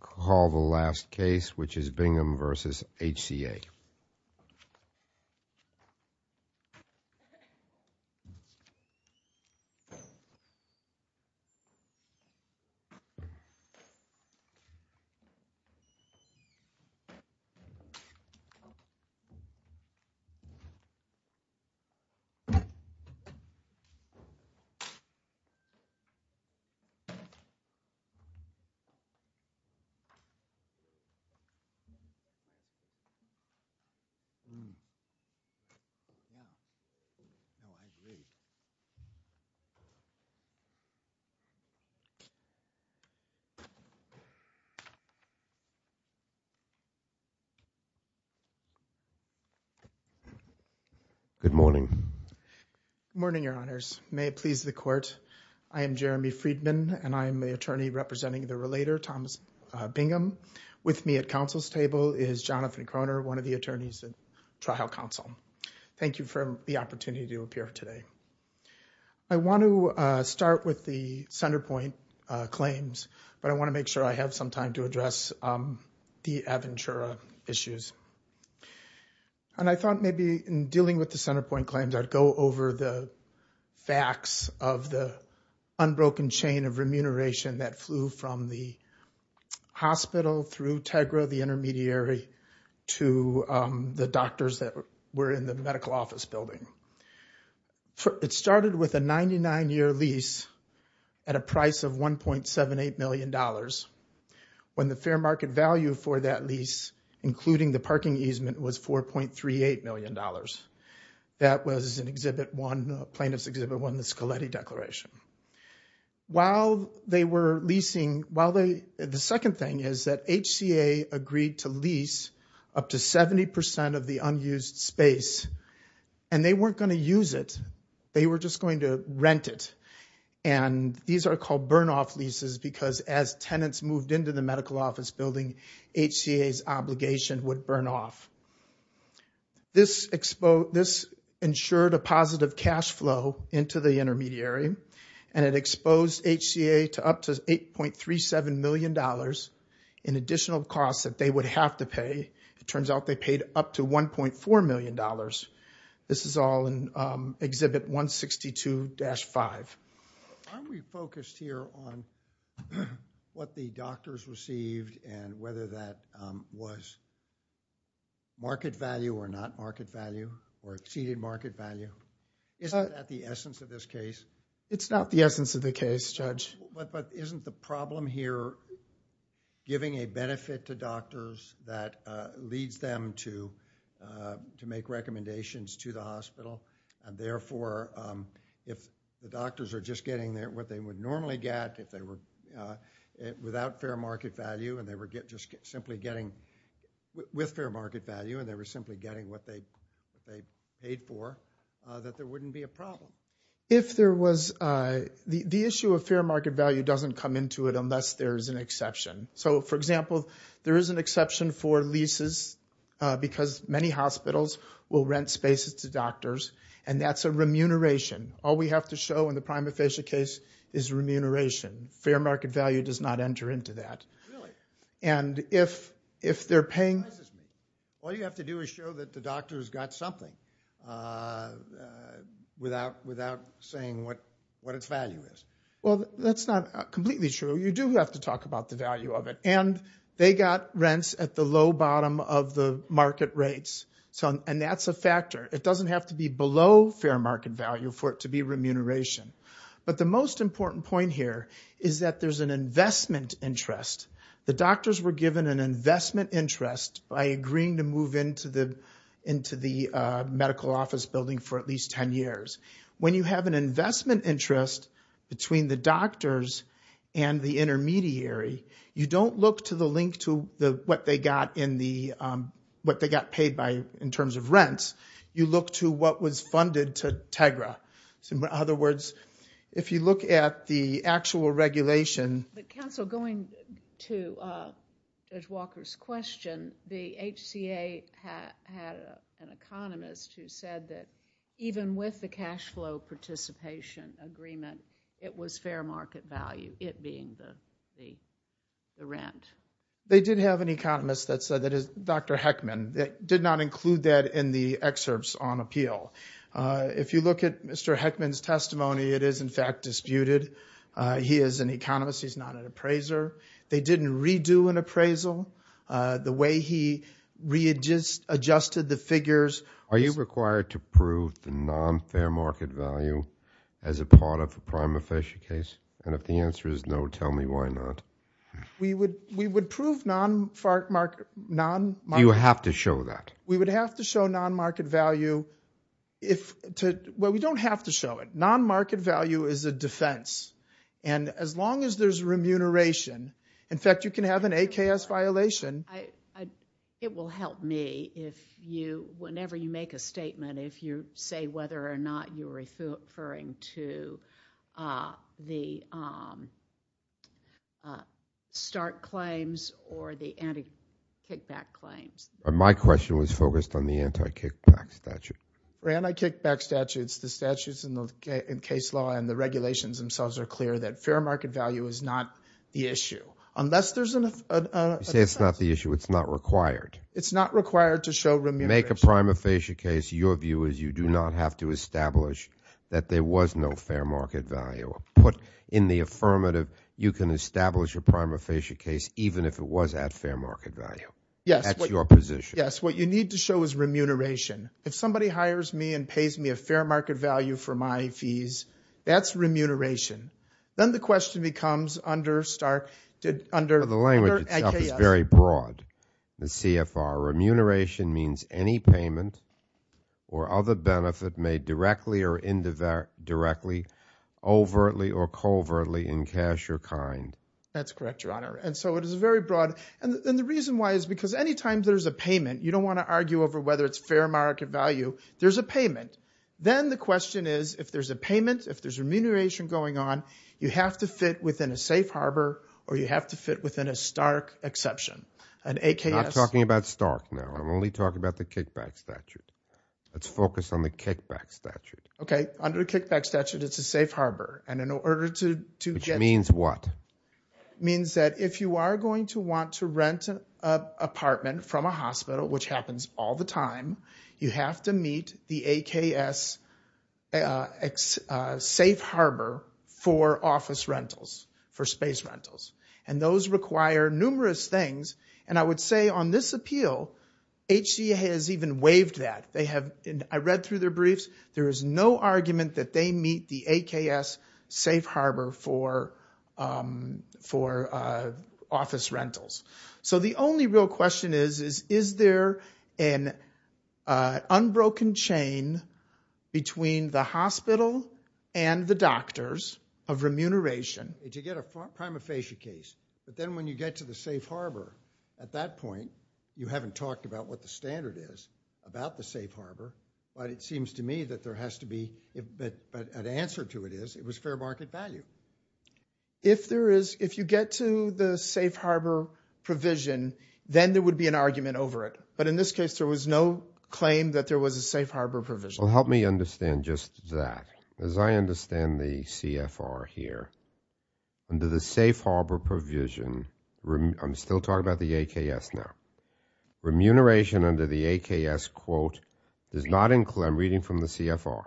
Call the last case, which is Bingham v. HCA. Good morning, Your Honors. May it please the Court, I am Jeremy Friedman, and I am the attorney representing the Relator Thomas Bingham. With me at counsel's table is Jonathan Croner, one of the attorneys at Trial Counsel. Thank you for the opportunity to appear today. I want to start with the Centerpoint claims, but I want to make sure I have some time to address the Aventura issues. And I thought maybe in dealing with the Centerpoint claims, I'd go over the facts of the unbroken chain of remuneration that flew from the hospital through Tegra, the intermediary, to the doctors that were in the medical office building. It started with a 99-year lease at a price of $1.78 million, when the fair market value for that lease, including the parking easement, was $4.38 million. That was in Exhibit 1, Plaintiff's Exhibit 1, the Scaletti Declaration. While they were leasing, the second thing is that HCA agreed to lease up to 70% of the unused space, and they weren't going to use it. They were just going to rent it. And these are called burn-off leases, because as tenants moved into the medical office building, HCA's obligation would burn off. This ensured a positive cash flow into the intermediary, and it exposed HCA to up to $8.37 million in additional costs that they would have to pay. It turns out they paid up to $1.4 million. This is all in Exhibit 162-5. Aren't we focused here on what the doctors received and whether that was market value or not market value, or exceeded market value? Isn't that the essence of this case? It's not the essence of the case, Judge. But isn't the problem here giving a benefit to doctors that leads them to make recommendations to the hospital, and therefore if the doctors are just getting what they would normally get without fair market value and they were just simply getting with fair market value and they were simply getting what they paid for, that there wouldn't be a problem. If there was, the issue of fair market value doesn't come into it unless there is an exception. So for example, there is an exception for leases because many hospitals will rent spaces to doctors, and that's a remuneration. All we have to show in the prima facie case is remuneration. Fair market value does not enter into that. And if they're paying... All you have to do is show that the doctor has got something without saying what its value is. Well, that's not completely true. So you do have to talk about the value of it. And they got rents at the low bottom of the market rates. And that's a factor. It doesn't have to be below fair market value for it to be remuneration. But the most important point here is that there's an investment interest. The doctors were given an investment interest by agreeing to move into the medical office building for at least 10 years. When you have an investment interest between the doctors and the intermediary, you don't look to the link to what they got in the... What they got paid by in terms of rents. You look to what was funded to Tegra. So in other words, if you look at the actual regulation... But counsel, going to Judge Walker's question, the HCA had an economist who said that even with the cash flow participation agreement, it was fair market value, it being the rent. They did have an economist that said that Dr. Heckman did not include that in the excerpts on appeal. If you look at Mr. Heckman's testimony, it is in fact disputed. He is an economist. He's not an appraiser. They didn't redo an appraisal. The way he readjusted the figures... Is it required to prove the non-fair market value as a part of a prima facie case? And if the answer is no, tell me why not. We would prove non-fair market... You have to show that. We would have to show non-market value. We don't have to show it. Non-market value is a defense. And as long as there's remuneration... In fact, you can have an AKS violation. It will help me if you, whenever you make a statement, if you say whether or not you're referring to the stark claims or the anti-kickback claims. My question was focused on the anti-kickback statute. For anti-kickback statutes, the statutes in case law and the regulations themselves are clear that fair market value is not the issue. Unless there's a... You say it's not the issue. It's not required. It's not required to show remuneration. Make a prima facie case, your view is you do not have to establish that there was no fair market value. Put in the affirmative, you can establish a prima facie case even if it was at fair market value. Yes. That's your position. Yes. What you need to show is remuneration. If somebody hires me and pays me a fair market value for my fees, that's remuneration. Then the question becomes under... The language itself is very broad, Ms. CFR. Remuneration means any payment or other benefit made directly or indirectly, overtly or covertly in cash or kind. That's correct, Your Honor. And so it is very broad. And the reason why is because any time there's a payment, you don't want to argue over whether it's fair market value, there's a payment. Then the question is if there's a payment, if there's remuneration going on, you have to fit within a safe harbor or you have to fit within a Stark exception. An AKS... I'm not talking about Stark now. I'm only talking about the Kickback Statute. Let's focus on the Kickback Statute. Okay. Under the Kickback Statute, it's a safe harbor. And in order to... Which means what? Means that if you are going to want to rent an apartment from a hospital, which happens all the time, you have to meet the AKS safe harbor for office rentals, for space rentals. And those require numerous things. And I would say on this appeal, HCA has even waived that. I read through their briefs. There is no argument that they meet the AKS safe harbor for office rentals. So the only real question is, is there an unbroken chain between the hospital and the doctors of remuneration? You get a prima facie case, but then when you get to the safe harbor, at that point, you haven't talked about what the standard is about the safe harbor, but it seems to me that there has to be an answer to it is it was fair market value. If there is, if you get to the safe harbor provision, then there would be an argument over it. But in this case, there was no claim that there was a safe harbor provision. Well, help me understand just that. As I understand the CFR here, under the safe harbor provision, I'm still talking about the AKS now. Remuneration under the AKS quote, I'm reading from the CFR,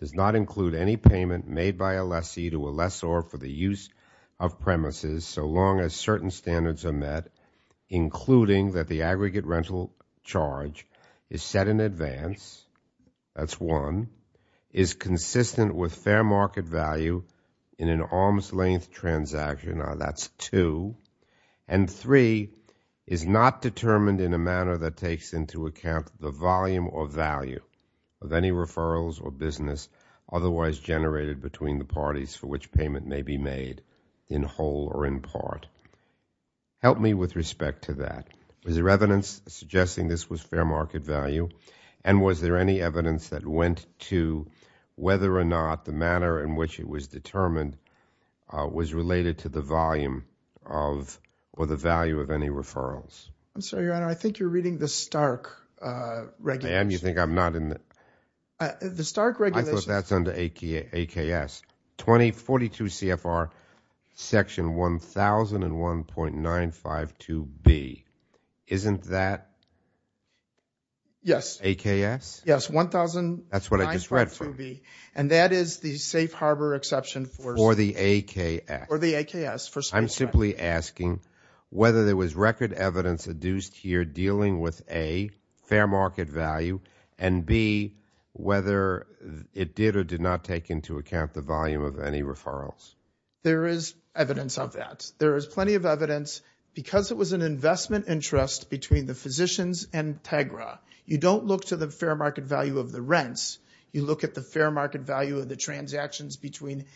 does not include any payment made by a lessee to a lessor for the use of premises so long as certain standards are met, including that the aggregate rental charge is set in advance, that's one, is consistent with fair market value in an arms length transaction, that's two, and three, is not determined in a manner that takes into account the volume or value of any referrals or business otherwise generated between the parties for which payment may be made in whole or in part. Help me with respect to that. Is there evidence suggesting this was fair market value? And was there any evidence that went to whether or not the manner in which it was determined was related to the volume of or the value of any referrals? I'm sorry, Your Honor, I think you're reading the Stark regulation. And you think I'm not in the... The Stark regulation... I thought that's under AKS, 2042 CFR, section 1001.952B, isn't that AKS? Yes, 1001.952B. That's what I just read from. And that is the safe harbor exception for... For the AKS. For the AKS. I'm simply asking whether there was record evidence adduced here dealing with A, fair whether it did or did not take into account the volume of any referrals. There is evidence of that. There is plenty of evidence because it was an investment interest between the physicians and Tegra. You don't look to the fair market value of the rents. You look at the fair market value of the transactions between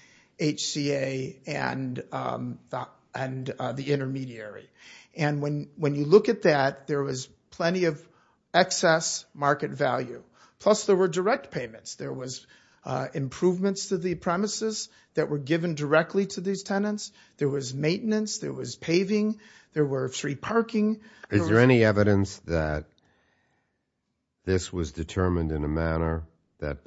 HCA and the intermediary. And when you look at that, there was plenty of excess market value. Plus there were direct payments. There was improvements to the premises that were given directly to these tenants. There was maintenance. There was paving. There were free parking. Is there any evidence that this was determined in a manner that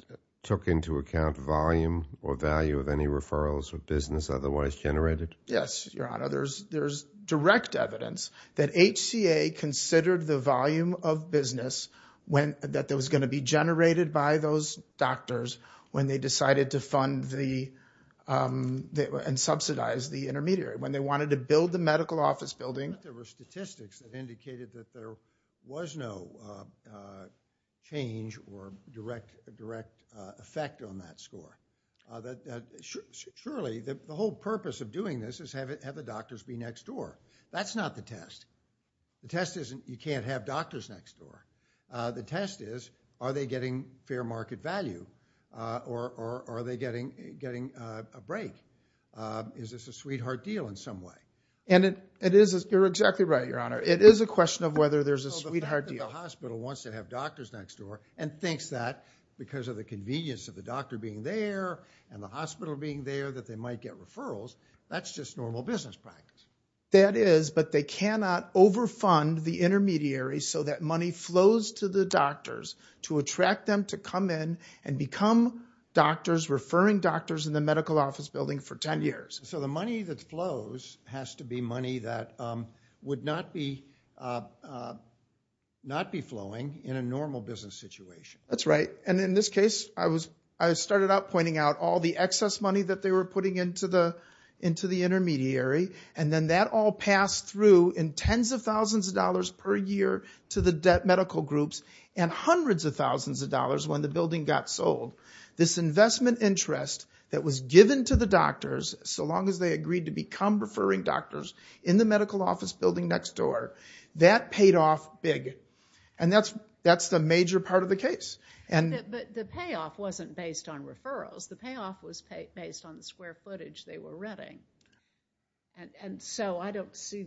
took into account volume or value of any referrals or business otherwise generated? Yes, your honor. There's direct evidence that HCA considered the volume of business when... generated by those doctors when they decided to fund and subsidize the intermediary. When they wanted to build the medical office building. There were statistics that indicated that there was no change or direct effect on that score. Surely, the whole purpose of doing this is have the doctors be next door. That's not the test. The test isn't you can't have doctors next door. The test is are they getting fair market value or are they getting a break? Is this a sweetheart deal in some way? And it is. You're exactly right, your honor. It is a question of whether there's a sweetheart deal. So the fact that the hospital wants to have doctors next door and thinks that because of the convenience of the doctor being there and the hospital being there that they might get referrals, that's just normal business practice. That is, but they cannot overfund the intermediary so that money flows to the doctors to attract them to come in and become doctors, referring doctors in the medical office building for 10 years. So the money that flows has to be money that would not be... not be flowing in a normal business situation. That's right. And in this case, I was... I started out pointing out all the excess money that they were putting into the intermediary and then that all passed through in tens of thousands of dollars per year to the medical groups and hundreds of thousands of dollars when the building got sold. This investment interest that was given to the doctors so long as they agreed to become referring doctors in the medical office building next door, that paid off big. And that's the major part of the case. But the payoff wasn't based on referrals. The payoff was based on the square footage they were running. And so I don't see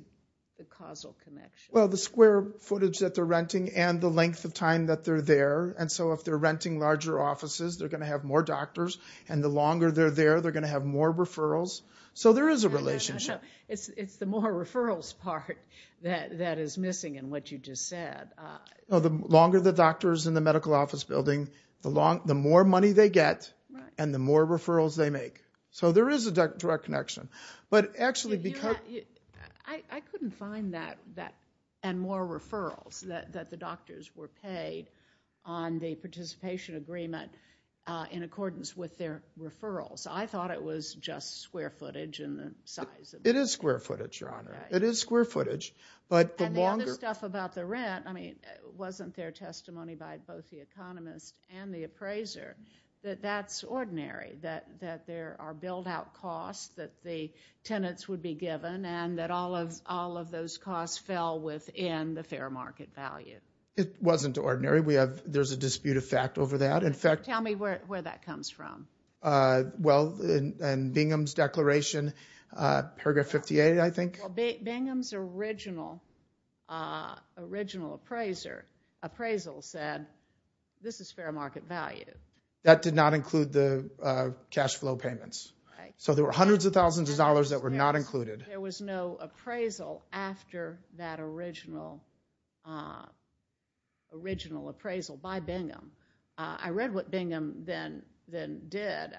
the causal connection. Well, the square footage that they're renting and the length of time that they're there. And so if they're renting larger offices, they're going to have more doctors. And the longer they're there, they're going to have more referrals. So there is a relationship. It's the more referrals part that is missing in what you just said. The longer the doctors in the medical office building, the more money they get and the more referrals they make. So there is a direct connection. But actually, because- I couldn't find that and more referrals that the doctors were paid on the participation agreement in accordance with their referrals. I thought it was just square footage in the size of- It is square footage, Your Honor. It is square footage. And the other stuff about the rent, I mean, wasn't there testimony by both the economist and the appraiser that that's ordinary, that there are build-out costs that the tenants would be given and that all of those costs fell within the fair market value? It wasn't ordinary. We have- There's a dispute of fact over that. In fact- Tell me where that comes from. Well, in Bingham's declaration, paragraph 58, I think. Bingham's original appraisal said, this is fair market value. That did not include the cash flow payments. Right. So there were hundreds of thousands of dollars that were not included. There was no appraisal after that original appraisal by Bingham. I read what Bingham then did.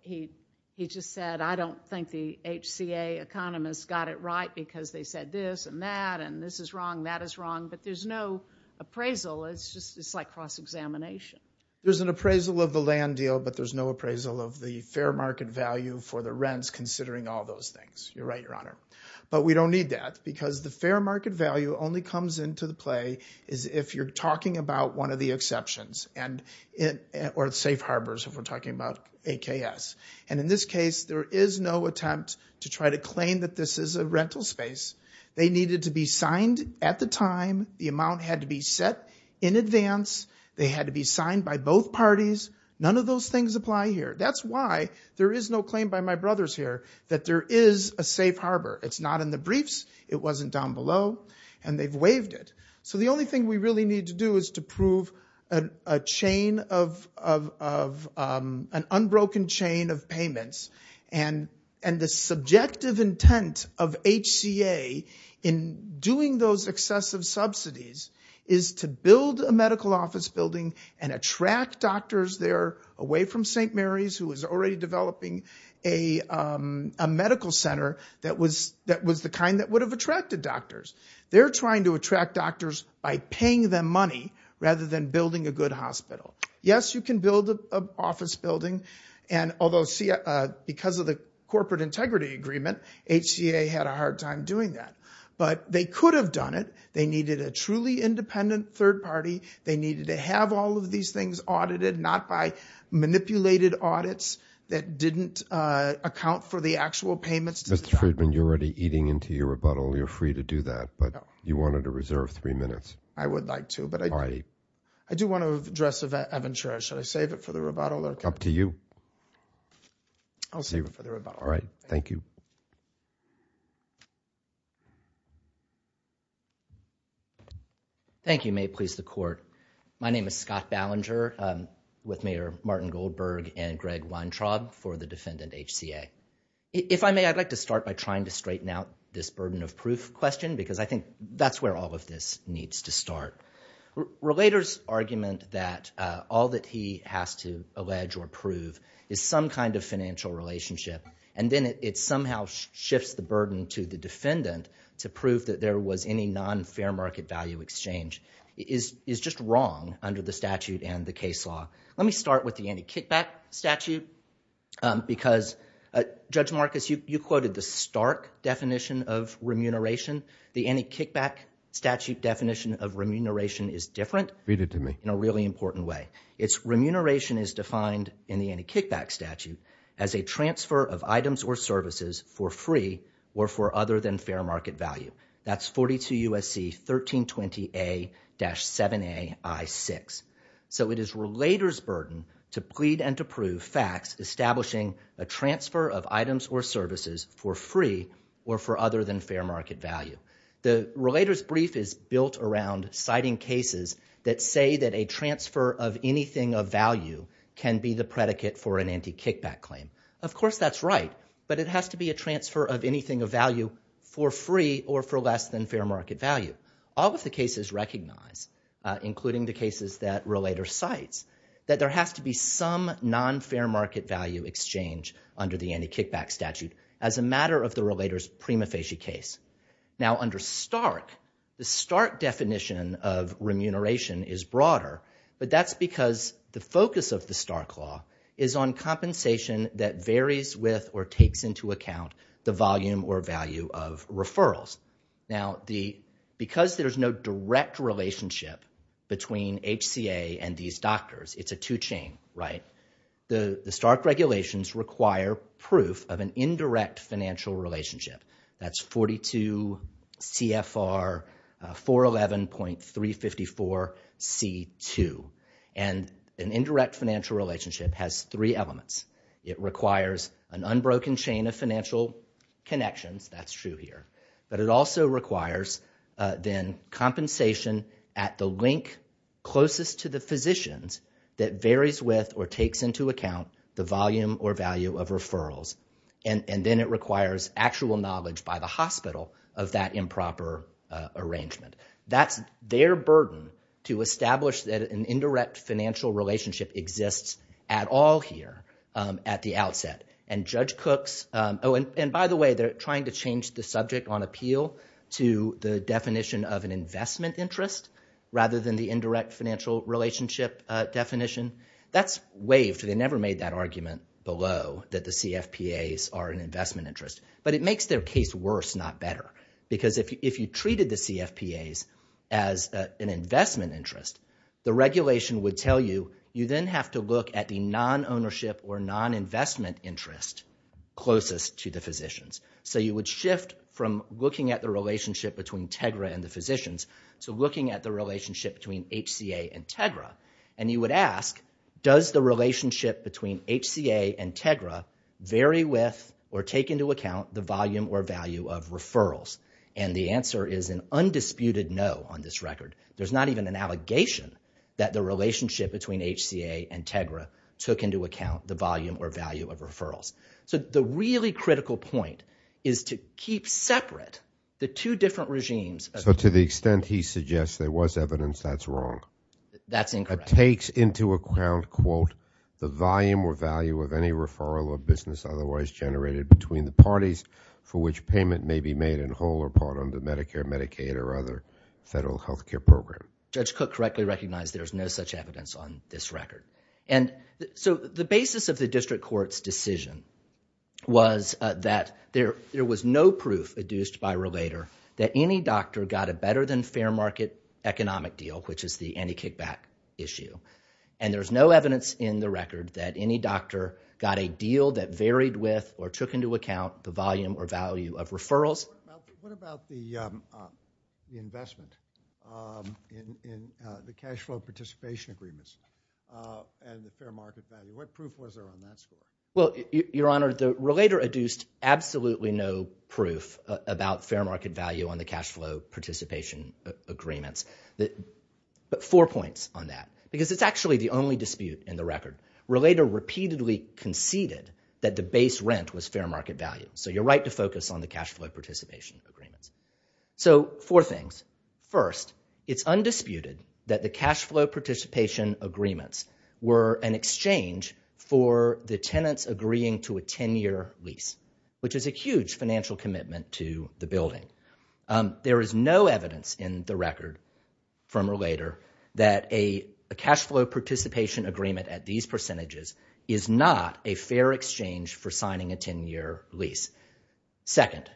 He just said, I don't think the HCA economists got it right because they said this and that, and this is wrong, that is wrong. But there's no appraisal. It's just like cross-examination. There's an appraisal of the land deal, but there's no appraisal of the fair market value for the rents considering all those things. You're right, Your Honor. But we don't need that because the fair market value only comes into the play is if you're talking about one of the exceptions or safe harbors if we're talking about AKS. And in this case, there is no attempt to try to claim that this is a rental space. They needed to be signed at the time. The amount had to be set in advance. They had to be signed by both parties. None of those things apply here. That's why there is no claim by my brothers here that there is a safe harbor. It's not in the briefs. It wasn't down below. And they've waived it. So the only thing we really need to do is to prove an unbroken chain of payments. And the subjective intent of HCA in doing those excessive subsidies is to build a medical office building and attract doctors there away from St. Mary's who is already developing a medical center that was the kind that would have attracted doctors. They're trying to attract doctors by paying them money rather than building a good hospital. Yes, you can build an office building. And although because of the corporate integrity agreement, HCA had a hard time doing that. But they could have done it. They needed a truly independent third party. They needed to have all of these things audited, not by manipulated audits that didn't account for the actual payments. Mr. Friedman, you're already eating into your rebuttal. You're free to do that. But you wanted to reserve three minutes. I would like to. But I do want to address a venture. Should I save it for the rebuttal? Up to you. I'll save it for the rebuttal. All right. Thank you. Thank you. May it please the court. My name is Scott Ballinger with Mayor Martin Goldberg and Greg Weintraub for the defendant HCA. If I may, I'd like to start by trying to straighten out this burden of proof question. Because I think that's where all of this needs to start. Relator's argument that all that he has to allege or prove is some kind of financial relationship. And then it somehow shifts the burden to the defendant to prove that there was any non-fair market value exchange is just wrong under the statute and the case law. Let me start with the anti-kickback statute. Because Judge Marcus, you quoted the stark definition of remuneration. The anti-kickback statute definition of remuneration is different. Read it to me. In a really important way. It's remuneration is defined in the anti-kickback statute as a transfer of items or services for free or for other than fair market value. That's 42 U.S.C. 1320A-7A I-6. So it is relator's burden to plead and to prove facts establishing a transfer of items or services for free or for other than fair market value. The relator's brief is built around citing cases that say that a transfer of anything of value can be the predicate for an anti-kickback claim. Of course, that's right. But it has to be a transfer of anything of value for free or for less than fair market value. All of the cases recognize, including the cases that relator cites, that there has to be some non-fair market value exchange under the anti-kickback statute as a matter of the relator's prima facie case. Now, under stark, the stark definition of remuneration is broader. But that's because the focus of the stark law is on compensation that varies with or takes into account the volume or value of referrals. Now, because there's no direct relationship between HCA and these doctors, it's a two chain, right? The stark regulations require proof of an indirect financial relationship. That's 42 CFR 411.354 C2. And an indirect financial relationship has three elements. It requires an unbroken chain of financial connections. That's true here. But it also requires then compensation at the link closest to the physicians that varies with or takes into account the volume or value of referrals. And then it requires actual knowledge by the hospital of that improper arrangement. That's their burden to establish that an indirect financial relationship exists at all here at the outset. And Judge Cook's, oh, and by the way, they're trying to change the subject on appeal to the definition of an investment interest rather than the indirect financial relationship definition. That's waived. They never made that argument below that the CFPAs are an investment interest. But it makes their case worse, not better. Because if you treated the CFPAs as an investment interest, the regulation would tell you, you then have to look at the non-ownership or non-investment interest closest to the physicians. So you would shift from looking at the relationship between Tegra and the physicians to looking at the relationship between HCA and Tegra. And you would ask, does the relationship between HCA and Tegra vary with or take into account the volume or value of referrals? And the answer is an undisputed no on this record. There's not even an allegation that the relationship between HCA and Tegra took into account the volume or value of referrals. So the really critical point is to keep separate the two different regimes. So to the extent he suggests there was evidence, that's wrong. That's incorrect. It takes into account, quote, the volume or value of any referral or business otherwise generated between the parties for which payment may be made in whole or part under Medicare, Medicaid, or other federal health care program. Judge Cook correctly recognized there's no such evidence on this record. And so the basis of the district court's decision was that there was no proof adduced by relator that any doctor got a better than fair market economic deal, which is the anti-kickback issue. And there's no evidence in the record that any doctor got a deal that varied with or took into account the volume or value of referrals. What about the investment in the cash flow participation agreements and the fair market value? What proof was there on that score? Well, your honor, the relator adduced absolutely no proof about fair market value on the cash flow participation agreements. But four points on that, because it's actually the only dispute in the record. Relator repeatedly conceded that the base rent was fair market value. So you're right to focus on the cash flow participation agreements. So four things. First, it's undisputed that the cash flow participation agreements were an exchange for the tenants agreeing to a 10-year lease, which is a huge financial commitment to the building. There is no evidence in the record from relator that a cash flow participation agreement at these percentages is not a fair exchange for signing a 10-year lease. Second,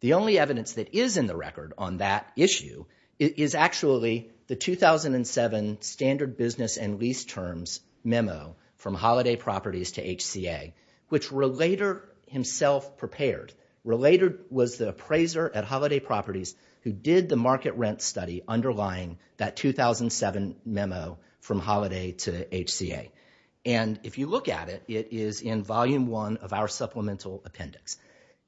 the only evidence that is in the record on that issue is actually the 2007 standard business and lease terms memo from Holiday Properties to HCA, which relator himself prepared. Relator was the appraiser at Holiday Properties who did the market rent study underlying that 2007 memo from Holiday to HCA. And if you look at it, it is in volume one of our supplemental appendix.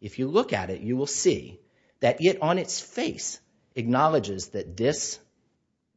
If you look at it, you will see that it on its face acknowledges that this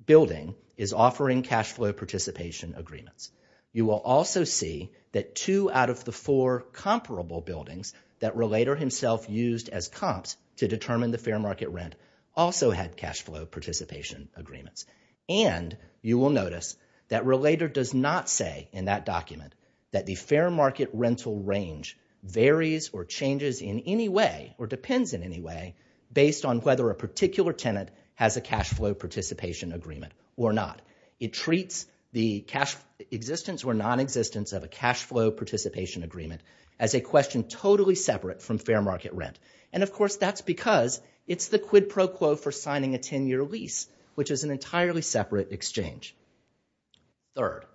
building is offering cash flow participation agreements. You will also see that two out of the four comparable buildings that relator himself used as comps to determine the fair market rent also had cash flow participation agreements. And you will notice that relator does not say in that document that the fair market rental range varies or changes in any way or depends in any way based on whether a particular tenant has a cash flow participation agreement or not. It treats the cash existence or non-existence of a cash flow participation agreement as a question totally separate from fair market rent. And, of course, that's because it's the quid pro quo for signing a 10-year lease, which is an entirely separate exchange. Third,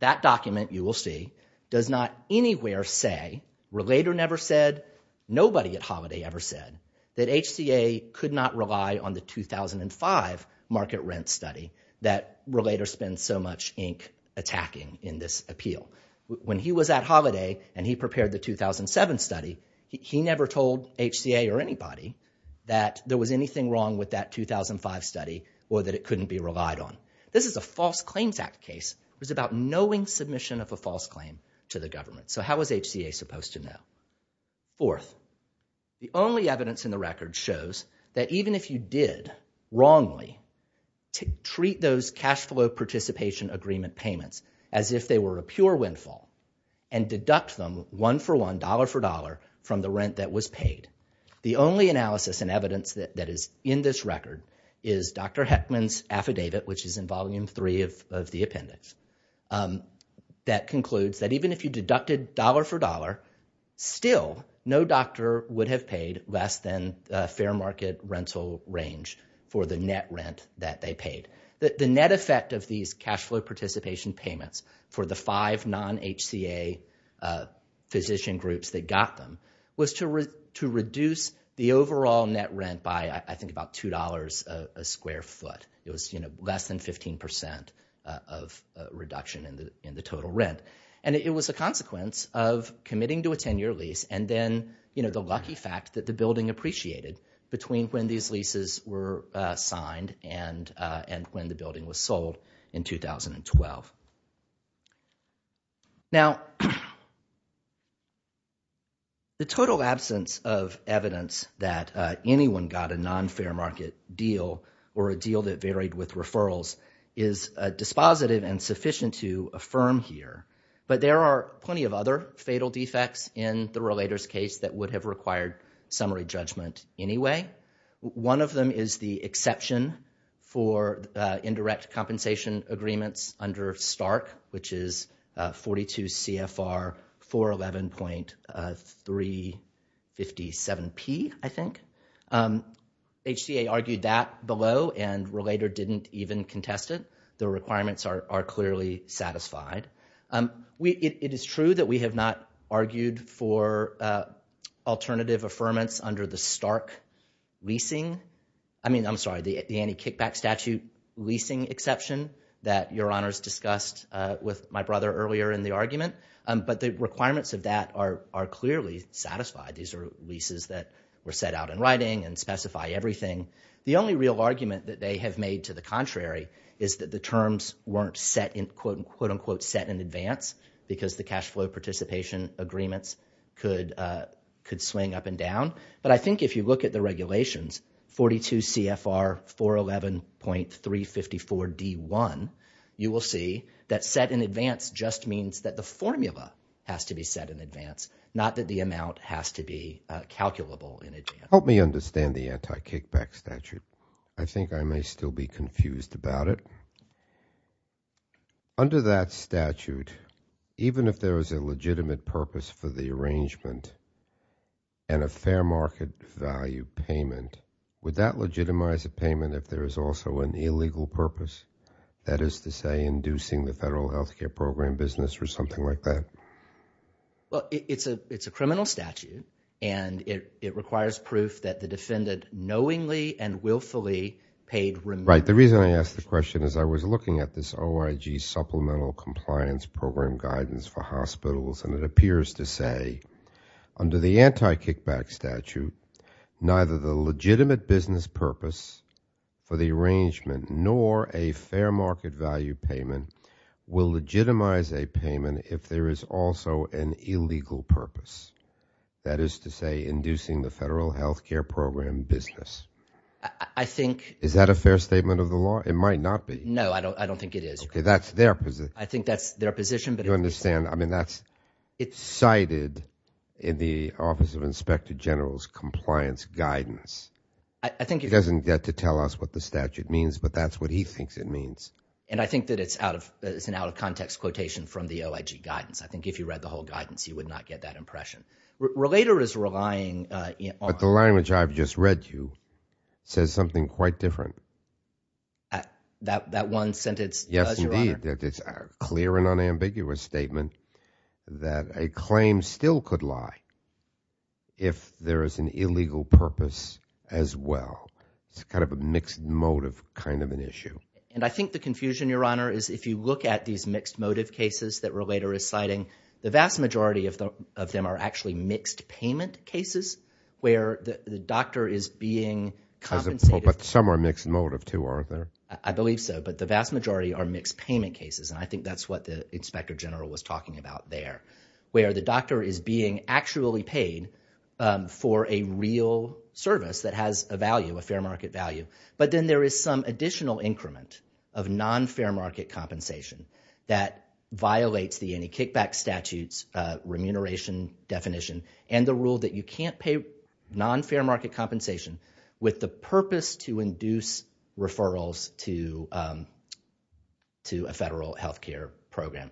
that document, you will see, does not anywhere say, relator never said, nobody at Holiday ever said, that HCA could not rely on the 2005 market rent study that relator spends so much ink attacking in this appeal. When he was at Holiday and he prepared the 2007 study, he never told HCA or anybody that there was anything wrong with that 2005 study or that it couldn't be relied on. This is a False Claims Act case. It was about knowing submission of a false claim to the government. So how was HCA supposed to know? Fourth, the only evidence in the record shows that even if you did wrongly to treat those cash flow participation agreement payments as if they were a pure windfall and deduct them one for one, dollar for dollar, from the rent that was paid, the only analysis and evidence that is in this record is Dr. Heckman's affidavit, which is in volume three of the appendix, that concludes that even if you deducted dollar for dollar, still no doctor would have paid less than fair market rental range for the net rent that they paid. The net effect of these cash flow participation payments for the five non-HCA physician groups that got them was to reduce the overall net rent by, I think, about $2 a square foot. It was less than 15% of reduction in the total rent. And it was a consequence of committing to a 10-year lease and then the lucky fact that the building appreciated between when these leases were signed and when the building was sold in 2012. Now, the total absence of evidence that anyone got a non-fair market deal or a deal that varied with referrals is dispositive and sufficient to affirm here, but there are plenty of other fatal defects in the relator's case that would have required summary judgment anyway. One of them is the exception for indirect compensation agreements under Stark, which is 42 CFR 411.357P, I think. HCA argued that below and relator didn't even contest it. The requirements are clearly satisfied. It is true that we have not argued for alternative affirmance under the Stark leasing. I mean, I'm sorry, the anti-kickback statute leasing exception that Your Honors discussed with my brother earlier in the argument. But the requirements of that are clearly satisfied. These are leases that were set out in writing and specify everything. The only real argument that they have made to the contrary is that the terms weren't quote-unquote set in advance because the cash flow participation agreements could swing up and down. But I think if you look at the regulations, 42 CFR 411.354D1, you will see that set in advance just means that the formula has to be set in advance, not that the amount has to be calculable in advance. Help me understand the anti-kickback statute. I think I may still be confused about it. Under that statute, even if there is a legitimate purpose for the arrangement and a fair market value payment, would that legitimize a payment if there is also an illegal purpose? That is to say, inducing the federal health care program business or something like that? Well, it's a criminal statute and it requires proof that the defendant knowingly and willfully paid... Supplemental compliance program guidance for hospitals and it appears to say under the anti-kickback statute, neither the legitimate business purpose for the arrangement nor a fair market value payment will legitimize a payment if there is also an illegal purpose. That is to say, inducing the federal health care program business. I think... Is that a fair statement of the law? It might not be. No, I don't think it is. That's their position. I think that's their position. Do you understand? I mean, that's cited in the Office of Inspector General's compliance guidance. I think... It doesn't get to tell us what the statute means, but that's what he thinks it means. And I think that it's an out-of-context quotation from the OIG guidance. I think if you read the whole guidance, you would not get that impression. Relator is relying on... The language I've just read you says something quite different. That one sentence does, Your Honor. Yes, indeed. It's a clear and unambiguous statement that a claim still could lie if there is an illegal purpose as well. It's kind of a mixed motive kind of an issue. And I think the confusion, Your Honor, is if you look at these mixed motive cases that Relator is citing, the vast majority of them are actually mixed payment cases where the doctor is being... But some are mixed motive too, aren't they? I believe so. But the vast majority are mixed payment cases. And I think that's what the Inspector General was talking about there, where the doctor is being actually paid for a real service that has a value, a fair market value. But then there is some additional increment of non-fair market compensation that violates the anti-kickback statutes remuneration definition and the rule that you can't pay non-fair market compensation with the purpose to induce referrals to a federal health care program.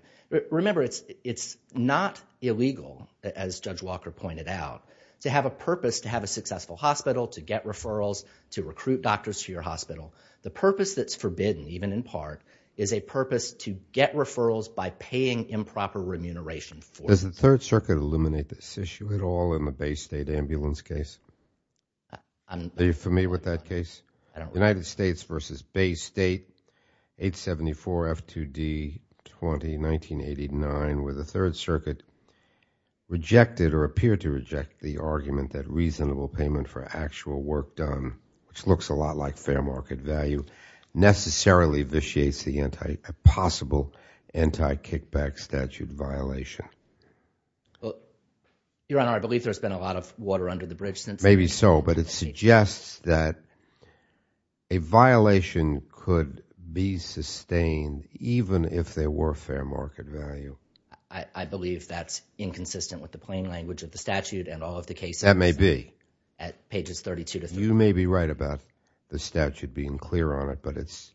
Remember, it's not illegal, as Judge Walker pointed out, to have a purpose, to have a successful hospital, to get referrals, to recruit doctors to your hospital. The purpose that's forbidden, even in part, is a purpose to get referrals by paying improper remuneration for... Ambulance case? Are you familiar with that case? I don't remember. United States v. Bay State, 874 F2D 20, 1989, where the Third Circuit rejected or appeared to reject the argument that reasonable payment for actual work done, which looks a lot like fair market value, necessarily vitiates the possible anti-kickback statute violation. Well, Your Honor, I believe there's been a lot of water under the bridge since... Maybe so, but it suggests that a violation could be sustained, even if there were fair market value. I believe that's inconsistent with the plain language of the statute and all of the cases... That may be. At pages 32 to 35. You may be right about the statute being clear on it, but it's...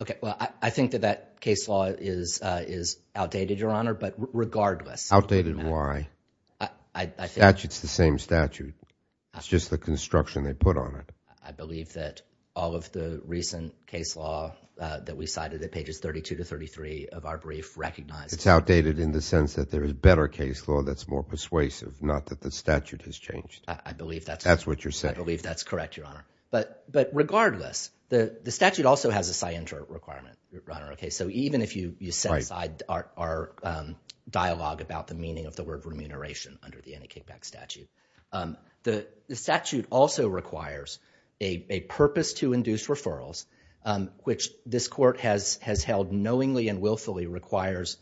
Okay. Well, I think that that case law is outdated, Your Honor, but regardless... Outdated why? The statute's the same statute. It's just the construction they put on it. I believe that all of the recent case law that we cited at pages 32 to 33 of our brief recognize... It's outdated in the sense that there is better case law that's more persuasive, not that the statute has changed. I believe that's... That's what you're saying. I believe that's correct, Your Honor. But regardless, the statute also has a scienter requirement, Your Honor. Okay, so even if you set aside our dialogue about the meaning of the word remuneration under the anti-kickback statute, the statute also requires a purpose to induce referrals, which this court has held knowingly and willfully requires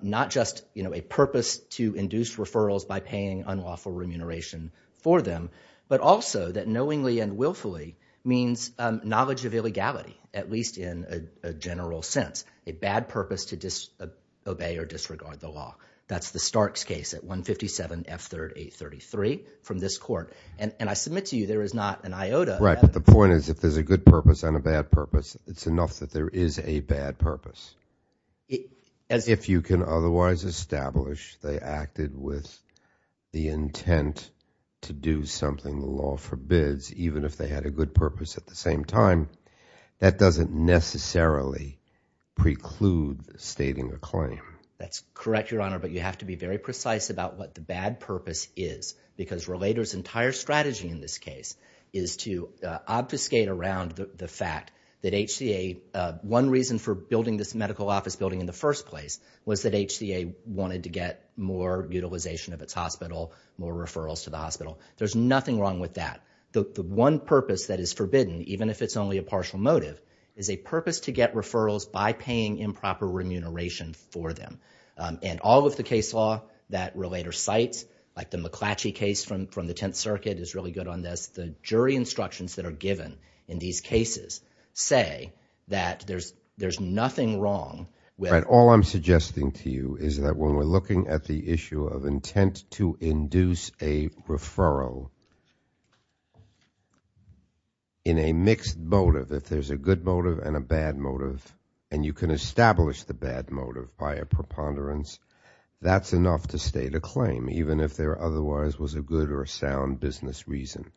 not just a purpose to induce referrals by paying unlawful remuneration for them, but also that knowingly and willfully means knowledge of illegality, at least in a general sense. A bad purpose to disobey or disregard the law. That's the Starks case at 157 F. 3rd 833 from this court. And I submit to you there is not an iota... Purpose. It's enough that there is a bad purpose. As if you can otherwise establish they acted with the intent to do something the law forbids, even if they had a good purpose at the same time, that doesn't necessarily preclude stating a claim. That's correct, Your Honor, but you have to be very precise about what the bad purpose is because Relator's entire strategy in this case is to obfuscate around the fact that HCA... one reason for building this medical office building in the first place was that HCA wanted to get more utilization of its hospital, more referrals to the hospital. There's nothing wrong with that. The one purpose that is forbidden, even if it's only a partial motive, is a purpose to get referrals by paying improper remuneration for them. And all of the case law that Relator cites, like the McClatchy case from the Tenth Circuit is really good on this. The jury instructions that are given in these cases say that there's nothing wrong with... All I'm suggesting to you is that when we're looking at the issue of intent to induce a referral in a mixed motive, if there's a good motive and a bad motive, and you can establish the bad motive by a preponderance, that's enough to state a claim, even if there otherwise was a good or a sound business reason.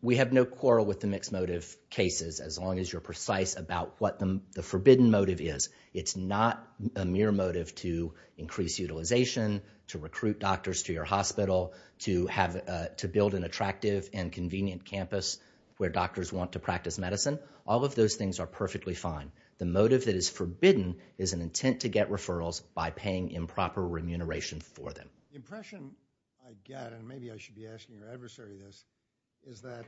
We have no quarrel with the mixed motive cases as long as you're precise about what the forbidden motive is. It's not a mere motive to increase utilization, to recruit doctors to your hospital, to build an attractive and convenient campus where doctors want to practice medicine. All of those things are perfectly fine. The motive that is forbidden is an intent to get referrals by paying improper remuneration for them. The impression I get, and maybe I should be asking your adversary this, is that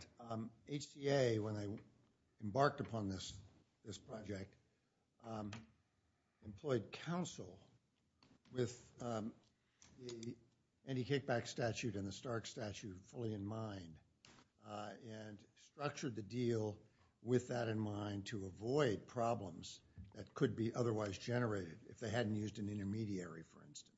HTA, when they embarked upon this project, employed counsel with the Andy Kickback statute and the Stark statute fully in mind, and structured the deal with that in mind to avoid problems that could be otherwise generated if they hadn't used an intermediary, for instance,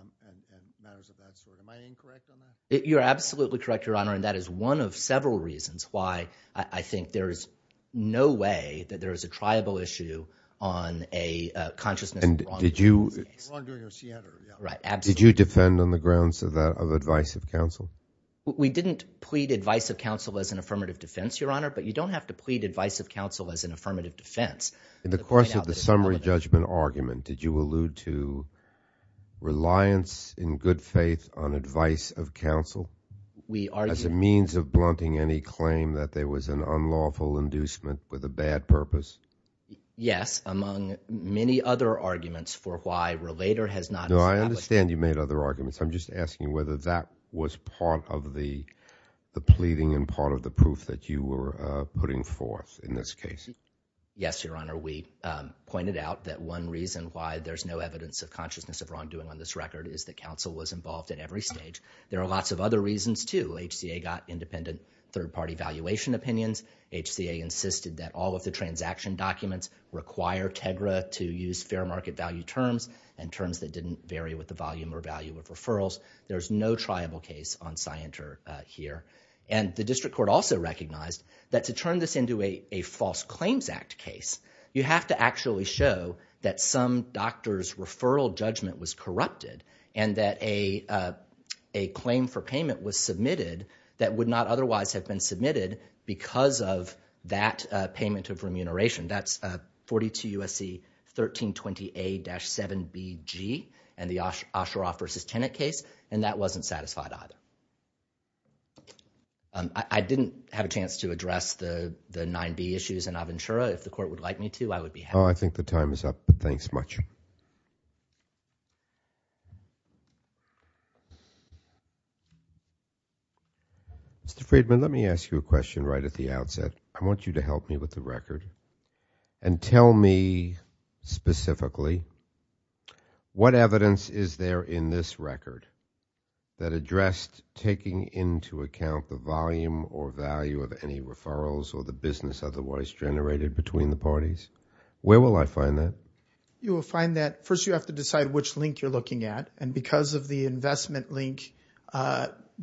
and matters of that sort. Am I incorrect on that? You're absolutely correct, Your Honor, and that is one of several reasons why I think there is no way that there is a triable issue on a consciousness of wrongdoing. We didn't plead advice of counsel as an affirmative defense, Your Honor, but you don't have to plead advice of counsel as an affirmative defense. In the course of the summary judgment argument, did you allude to reliance in good faith on advice of counsel as a means of blunting any claim that there was an unlawful inducement with a bad purpose? Yes, among many other arguments for why Relator has not established— No, I understand you made other arguments. I'm just asking whether that was part of the pleading and part of the proof that you were putting forth in this case. Yes, Your Honor. We pointed out that one reason why there's no evidence of consciousness of wrongdoing on this record is that counsel was involved at every stage. There are lots of other reasons, too. HCA got independent third-party valuation opinions. HCA insisted that all of the transaction documents require Tegra to use fair market value terms and terms that didn't vary with the volume or value of referrals. There's no triable case on Scienter here. And the district court also recognized that to turn this into a false claims act case, you have to actually show that some doctor's referral judgment was corrupted and that a claim for payment was submitted that would not otherwise have been submitted because of that payment of remuneration. That's 42 U.S.C. 1320A-7BG and the Osharoff versus Tennant case, and that wasn't satisfied either. I didn't have a chance to address the 9B issues in Aventura. If the court would like me to, I would be happy. Oh, I think the time is up, but thanks much. Mr. Friedman, let me ask you a question right at the outset. I want you to help me with the record. And tell me specifically, what evidence is there in this record that addressed taking into account the volume or value of any referrals or the business otherwise generated between the parties? Where will I find that? You will find that, first, you have to decide which link you're looking at. And because of the investment link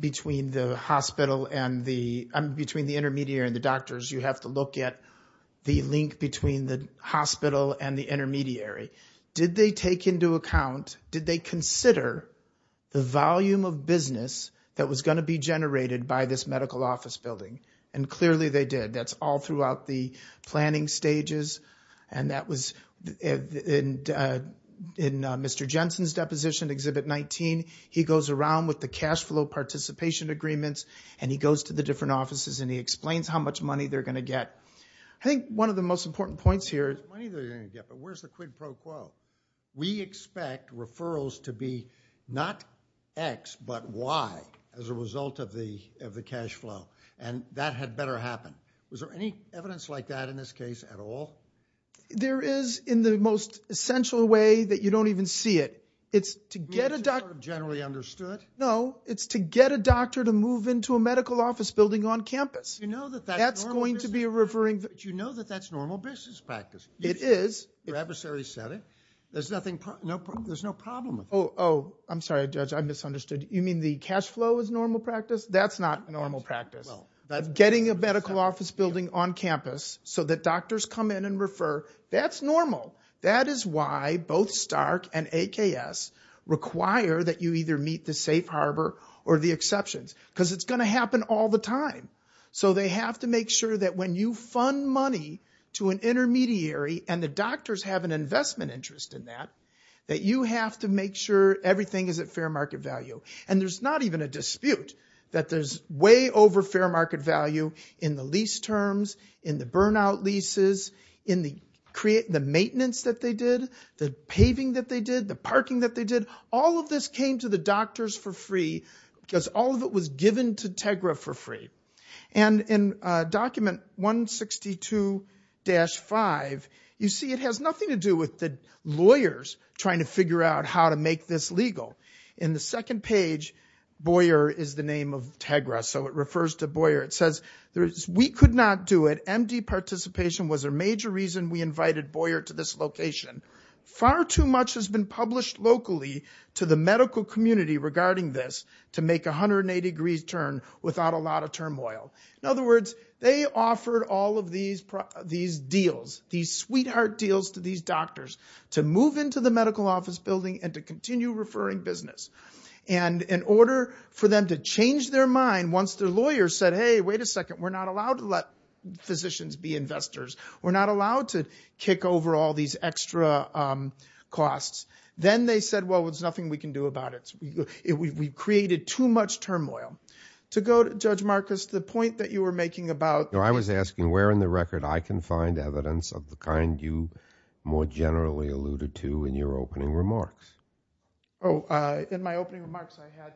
between the hospital and the, between the intermediary and the doctors, you have to look at the link between the hospital and the intermediary. Did they take into account, did they consider the volume of business that was going to be generated by this medical office building? And clearly they did. That's all throughout the planning stages. And that was in Mr. Jensen's deposition, Exhibit 19, he goes around with the cash flow participation agreements, and he goes to the different offices and he explains how much money they're going to get. I think one of the most important points here... How much money they're going to get, but where's the quid pro quo? We expect referrals to be not X, but Y as a result of the cash flow. And that had better happen. Was there any evidence like that in this case at all? There is in the most essential way that you don't even see it. It's to get a doctor... Is it sort of generally understood? No, it's to get a doctor to move into a medical office building on campus. Do you know that that's normal business practice? Do you know that that's normal business practice? It is. Your adversary said it. There's no problem with that. Oh, I'm sorry, Judge, I misunderstood. You mean the cash flow is normal practice? That's not normal practice. Getting a medical office building on campus so that doctors come in and refer, that's normal. That is why both Stark and AKS require that you either meet the safe harbor or the exceptions, because it's going to happen all the time. So they have to make sure that when you fund money to an intermediary and the doctors have an investment interest in that, that you have to make sure everything is at fair market value. And there's not even a dispute that there's way over fair market value in the lease terms, in the burnout leases, in the maintenance that they did, the paving that they did, the parking that they did. All of this came to the doctors for free because all of it was given to Tegra for free. And in document 162-5, you see it has nothing to do with the lawyers trying to figure out how to make this legal. In the second page, Boyer is the name of Tegra, so it refers to Boyer. It says, we could not do it. Empty participation was a major reason we invited Boyer to this location. Far too much has been published locally to the medical community regarding this to make 180 degrees turn without a lot of turmoil. In other words, they offered all of these deals, these sweetheart deals to these doctors to move into the medical office building and to continue referring business. And in order for them to change their mind once their lawyer said, wait a second, we're not allowed to let physicians be investors. We're not allowed to kick over all these extra costs. Then they said, well, there's nothing we can do about it. We've created too much turmoil. To go to Judge Marcus, the point that you were making about... I was asking where in the record I can find evidence of the kind you more generally alluded to in your opening remarks. Oh, in my opening remarks, I had...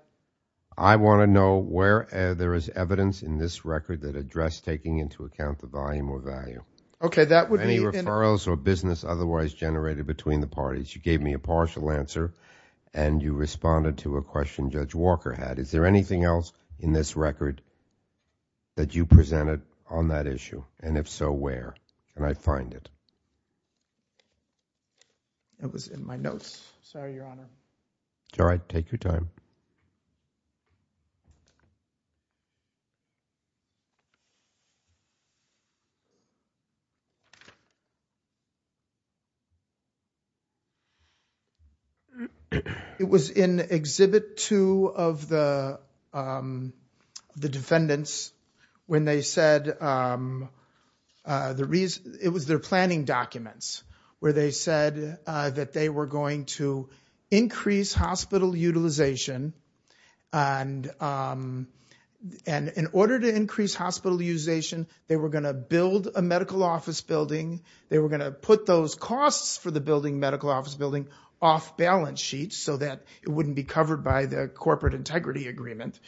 I want to know where there is evidence in this record that address taking into account the volume or value. Okay, that would be... Any referrals or business otherwise generated between the parties. You gave me a partial answer and you responded to a question Judge Walker had. Is there anything else in this record that you presented on that issue? And if so, where can I find it? It was in my notes. Sorry, Your Honor. It's all right. Take your time. It was in Exhibit 2 of the defendants when they said... It was their planning documents where they said that they were going to build a medical office building. They were going to put those costs for the building, medical office building, off balance sheets so that it wouldn't be covered by the corporate integrity agreement.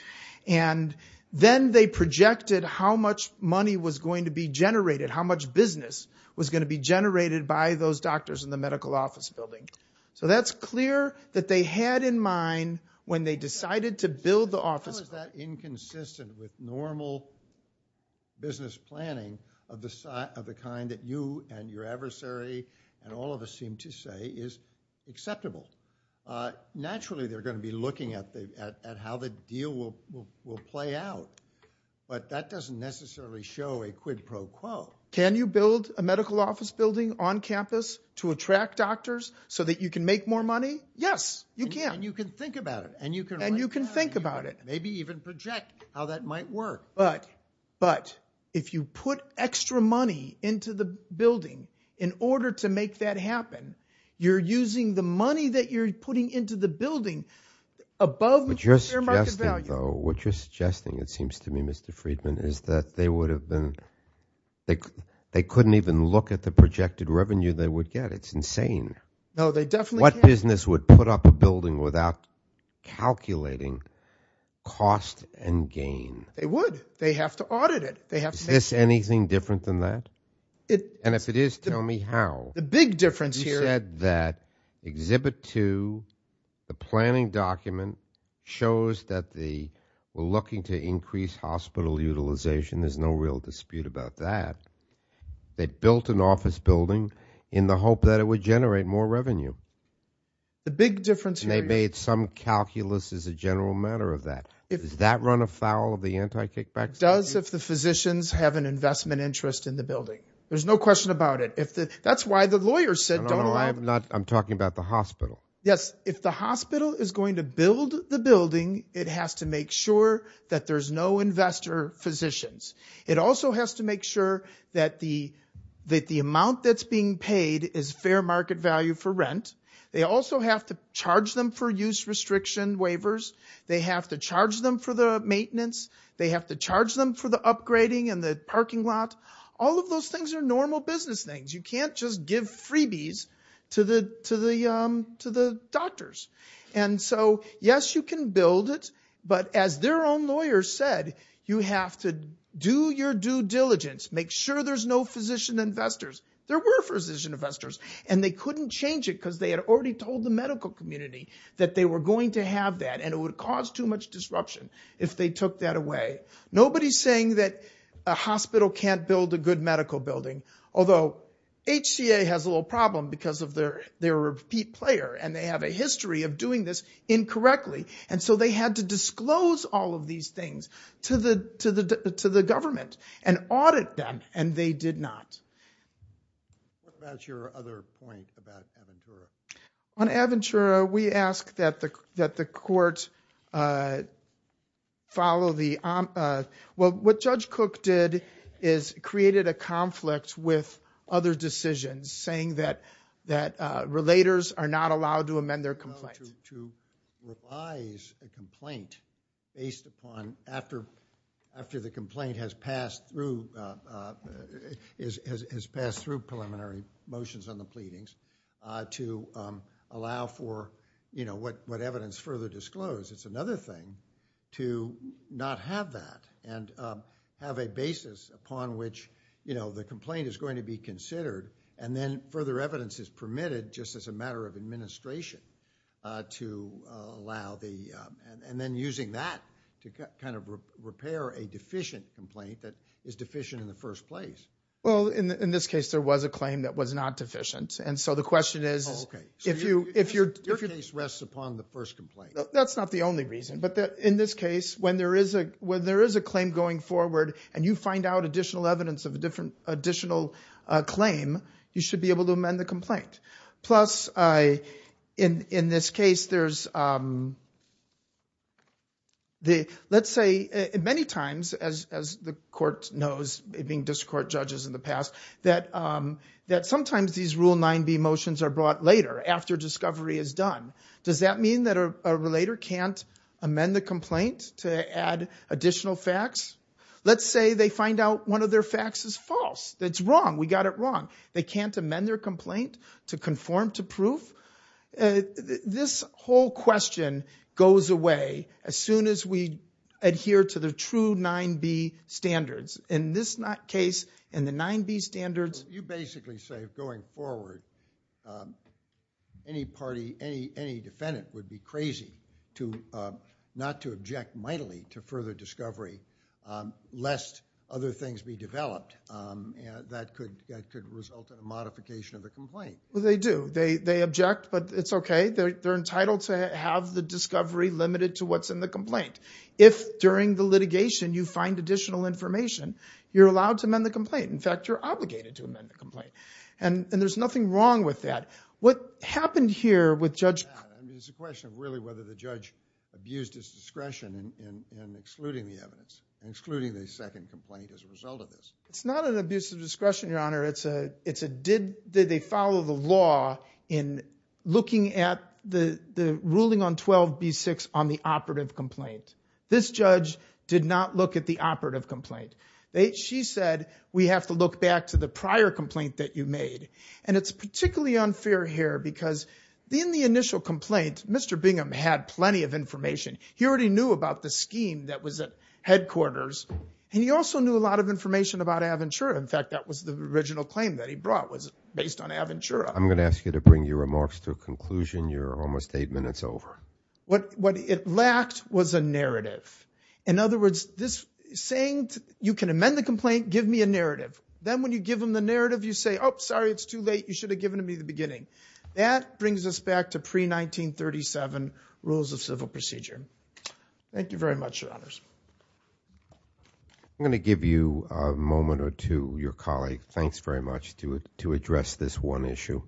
And then they projected how much money was going to be generated, how much business was going to be generated by those doctors in the medical office building. So that's clear that they had in mind when they decided to build the office... How is that inconsistent with normal business planning of the kind that you and your adversary and all of us seem to say is acceptable? Naturally, they're going to be looking at how the deal will play out, but that doesn't necessarily show a quid pro quo. Can you build a medical office building on campus to attract doctors that you can make more money? Yes, you can. And you can think about it. And you can think about it. Maybe even project how that might work. But if you put extra money into the building in order to make that happen, you're using the money that you're putting into the building above your market value. What you're suggesting, it seems to me, Mr. Friedman, is that they would have been... They couldn't even look at the projected revenue they would get. It's insane. What business would put up a building without calculating cost and gain? They would. They have to audit it. Is this anything different than that? And if it is, tell me how. The big difference here... You said that Exhibit 2, the planning document, shows that they were looking to increase hospital utilization. There's no real dispute about that. They built an office building in the hope that it would generate more revenue. The big difference here is... They made some calculus as a general matter of that. Does that run afoul of the anti-kickback statute? It does if the physicians have an investment interest in the building. There's no question about it. That's why the lawyers said don't allow... I'm talking about the hospital. Yes, if the hospital is going to build the building, it has to make sure that there's no investor physicians. It also has to make sure that the amount that's being paid is fair market value for rent. They also have to charge them for use restriction waivers. They have to charge them for the maintenance. They have to charge them for the upgrading in the parking lot. All of those things are normal business things. You can't just give freebies to the doctors. And so, yes, you can build it. As their own lawyers said, you have to do your due diligence. Make sure there's no physician investors. There were physician investors and they couldn't change it because they had already told the medical community that they were going to have that and it would cause too much disruption if they took that away. Nobody's saying that a hospital can't build a good medical building. Although HCA has a little problem because of their repeat player and they have a history of doing this incorrectly. And so they had to disclose all of these things to the government and audit them and they did not. What about your other point about Aventura? On Aventura, we asked that the court follow the... Well, what Judge Cook did is created a conflict with other decisions saying that relators are not allowed to amend their complaints. To revise a complaint based upon after the complaint has passed through preliminary motions on the pleadings to allow for what evidence further disclosed. It's another thing to not have that and have a basis upon which the complaint is going to be considered and then further evidence is permitted just as a matter of administration. To allow the... And then using that to kind of repair a deficient complaint that is deficient in the first place. Well, in this case, there was a claim that was not deficient. And so the question is, if you're... Your case rests upon the first complaint. That's not the only reason. But in this case, when there is a claim going forward and you find out additional evidence of a different additional claim, you should be able to amend the complaint. Plus, in this case, there's... Let's say, many times, as the court knows, being district court judges in the past, that sometimes these Rule 9b motions are brought later after discovery is done. Does that mean that a relator can't amend the complaint to add additional facts? Let's say they find out one of their facts is false. That's wrong. We got it wrong. They can't amend their complaint to conform to proof? This whole question goes away as soon as we adhere to the true 9b standards. In this case, in the 9b standards... So you basically say, going forward, any party, any defendant would be crazy not to object mightily to further discovery, lest other things be developed. That could result in a modification of the complaint. Well, they do. They object, but it's okay. They're entitled to have the discovery limited to what's in the complaint. If, during the litigation, you find additional information, you're allowed to amend the complaint. In fact, you're obligated to amend the complaint. And there's nothing wrong with that. What happened here with Judge... And it's a question of, really, whether the judge abused his discretion in excluding the evidence, excluding the second complaint as a result of this. It's not an abuse of discretion, Your Honor. Did they follow the law in looking at the ruling on 12b-6 on the operative complaint? This judge did not look at the operative complaint. She said, we have to look back to the prior complaint that you made. And it's particularly unfair here because in the initial complaint, Mr. Bingham had plenty of information. He already knew about the scheme that was at headquarters. And he also knew a lot of information about Aventura. In fact, that was the original claim that he brought was based on Aventura. I'm going to ask you to bring your remarks to a conclusion. You're almost eight minutes over. What it lacked was a narrative. In other words, saying you can amend the complaint, give me a narrative. Then when you give them the narrative, you say, oh, sorry, it's too late. You should have given me the beginning. That brings us back to pre-1937 rules of civil procedure. Thank you very much, Your Honors. I'm going to give you a moment or two. Your colleague, thanks very much to address this one issue.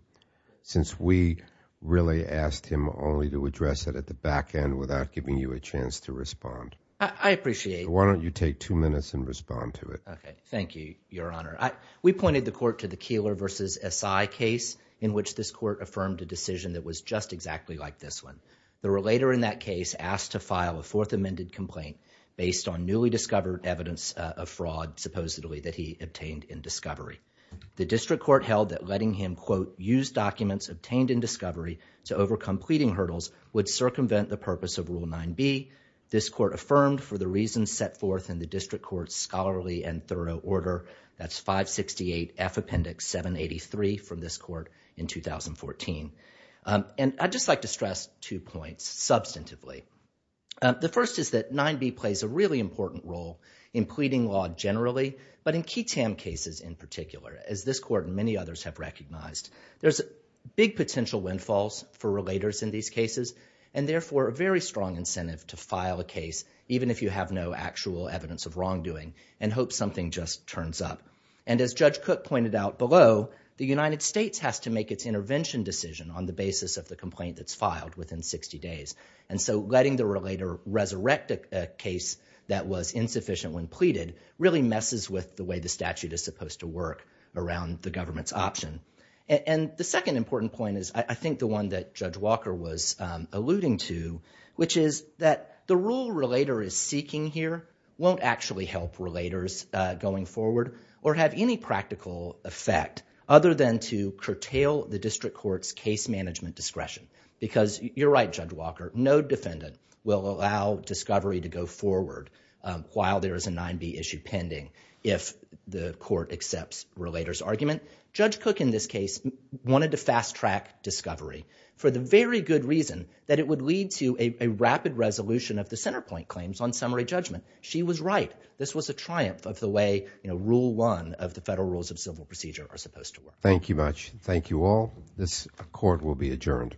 Since we really asked him only to address it at the back end without giving you a chance to respond. I appreciate it. Why don't you take two minutes and respond to it? OK. Thank you, Your Honor. We pointed the court to the Keillor versus Esai case in which this court affirmed a decision that was just exactly like this one. The relator in that case asked to file a fourth amended complaint based on newly discovered evidence of fraud, supposedly that he obtained in discovery. The district court held that letting him, quote, use documents obtained in discovery to overcome pleading hurdles would circumvent the purpose of Rule 9b. This court affirmed for the reasons set forth in the district court's scholarly and thorough order. That's 568F Appendix 783 from this court in 2014. And I'd just like to stress two points substantively. The first is that 9b plays a really important role in pleading law generally, but in Keatam cases in particular, as this court and many others have recognized. There's big potential windfalls for relators in these cases, and therefore a very strong incentive to file a case even if you have no actual evidence of wrongdoing and hope something just turns up. And as Judge Cook pointed out below, the United States has to make its intervention decision on the basis of the complaint that's filed within 60 days. And so letting the relator resurrect a case that was insufficient when pleaded really messes with the way the statute is supposed to work around the government's option. And the second important point is, I think the one that Judge Walker was alluding to, which is that the rule relator is seeking here won't actually help relators going forward or have any practical effect other than to curtail the district court's case management discretion. Because you're right, Judge Walker, no defendant will allow discovery to go forward while there is a 9B issue pending if the court accepts relator's argument. Judge Cook in this case wanted to fast track discovery for the very good reason that it would lead to a rapid resolution of the center point claims on summary judgment. She was right. This was a triumph of the way rule one of the federal rules of civil procedure are supposed to work. Thank you much. Thank you all. This court will be adjourned.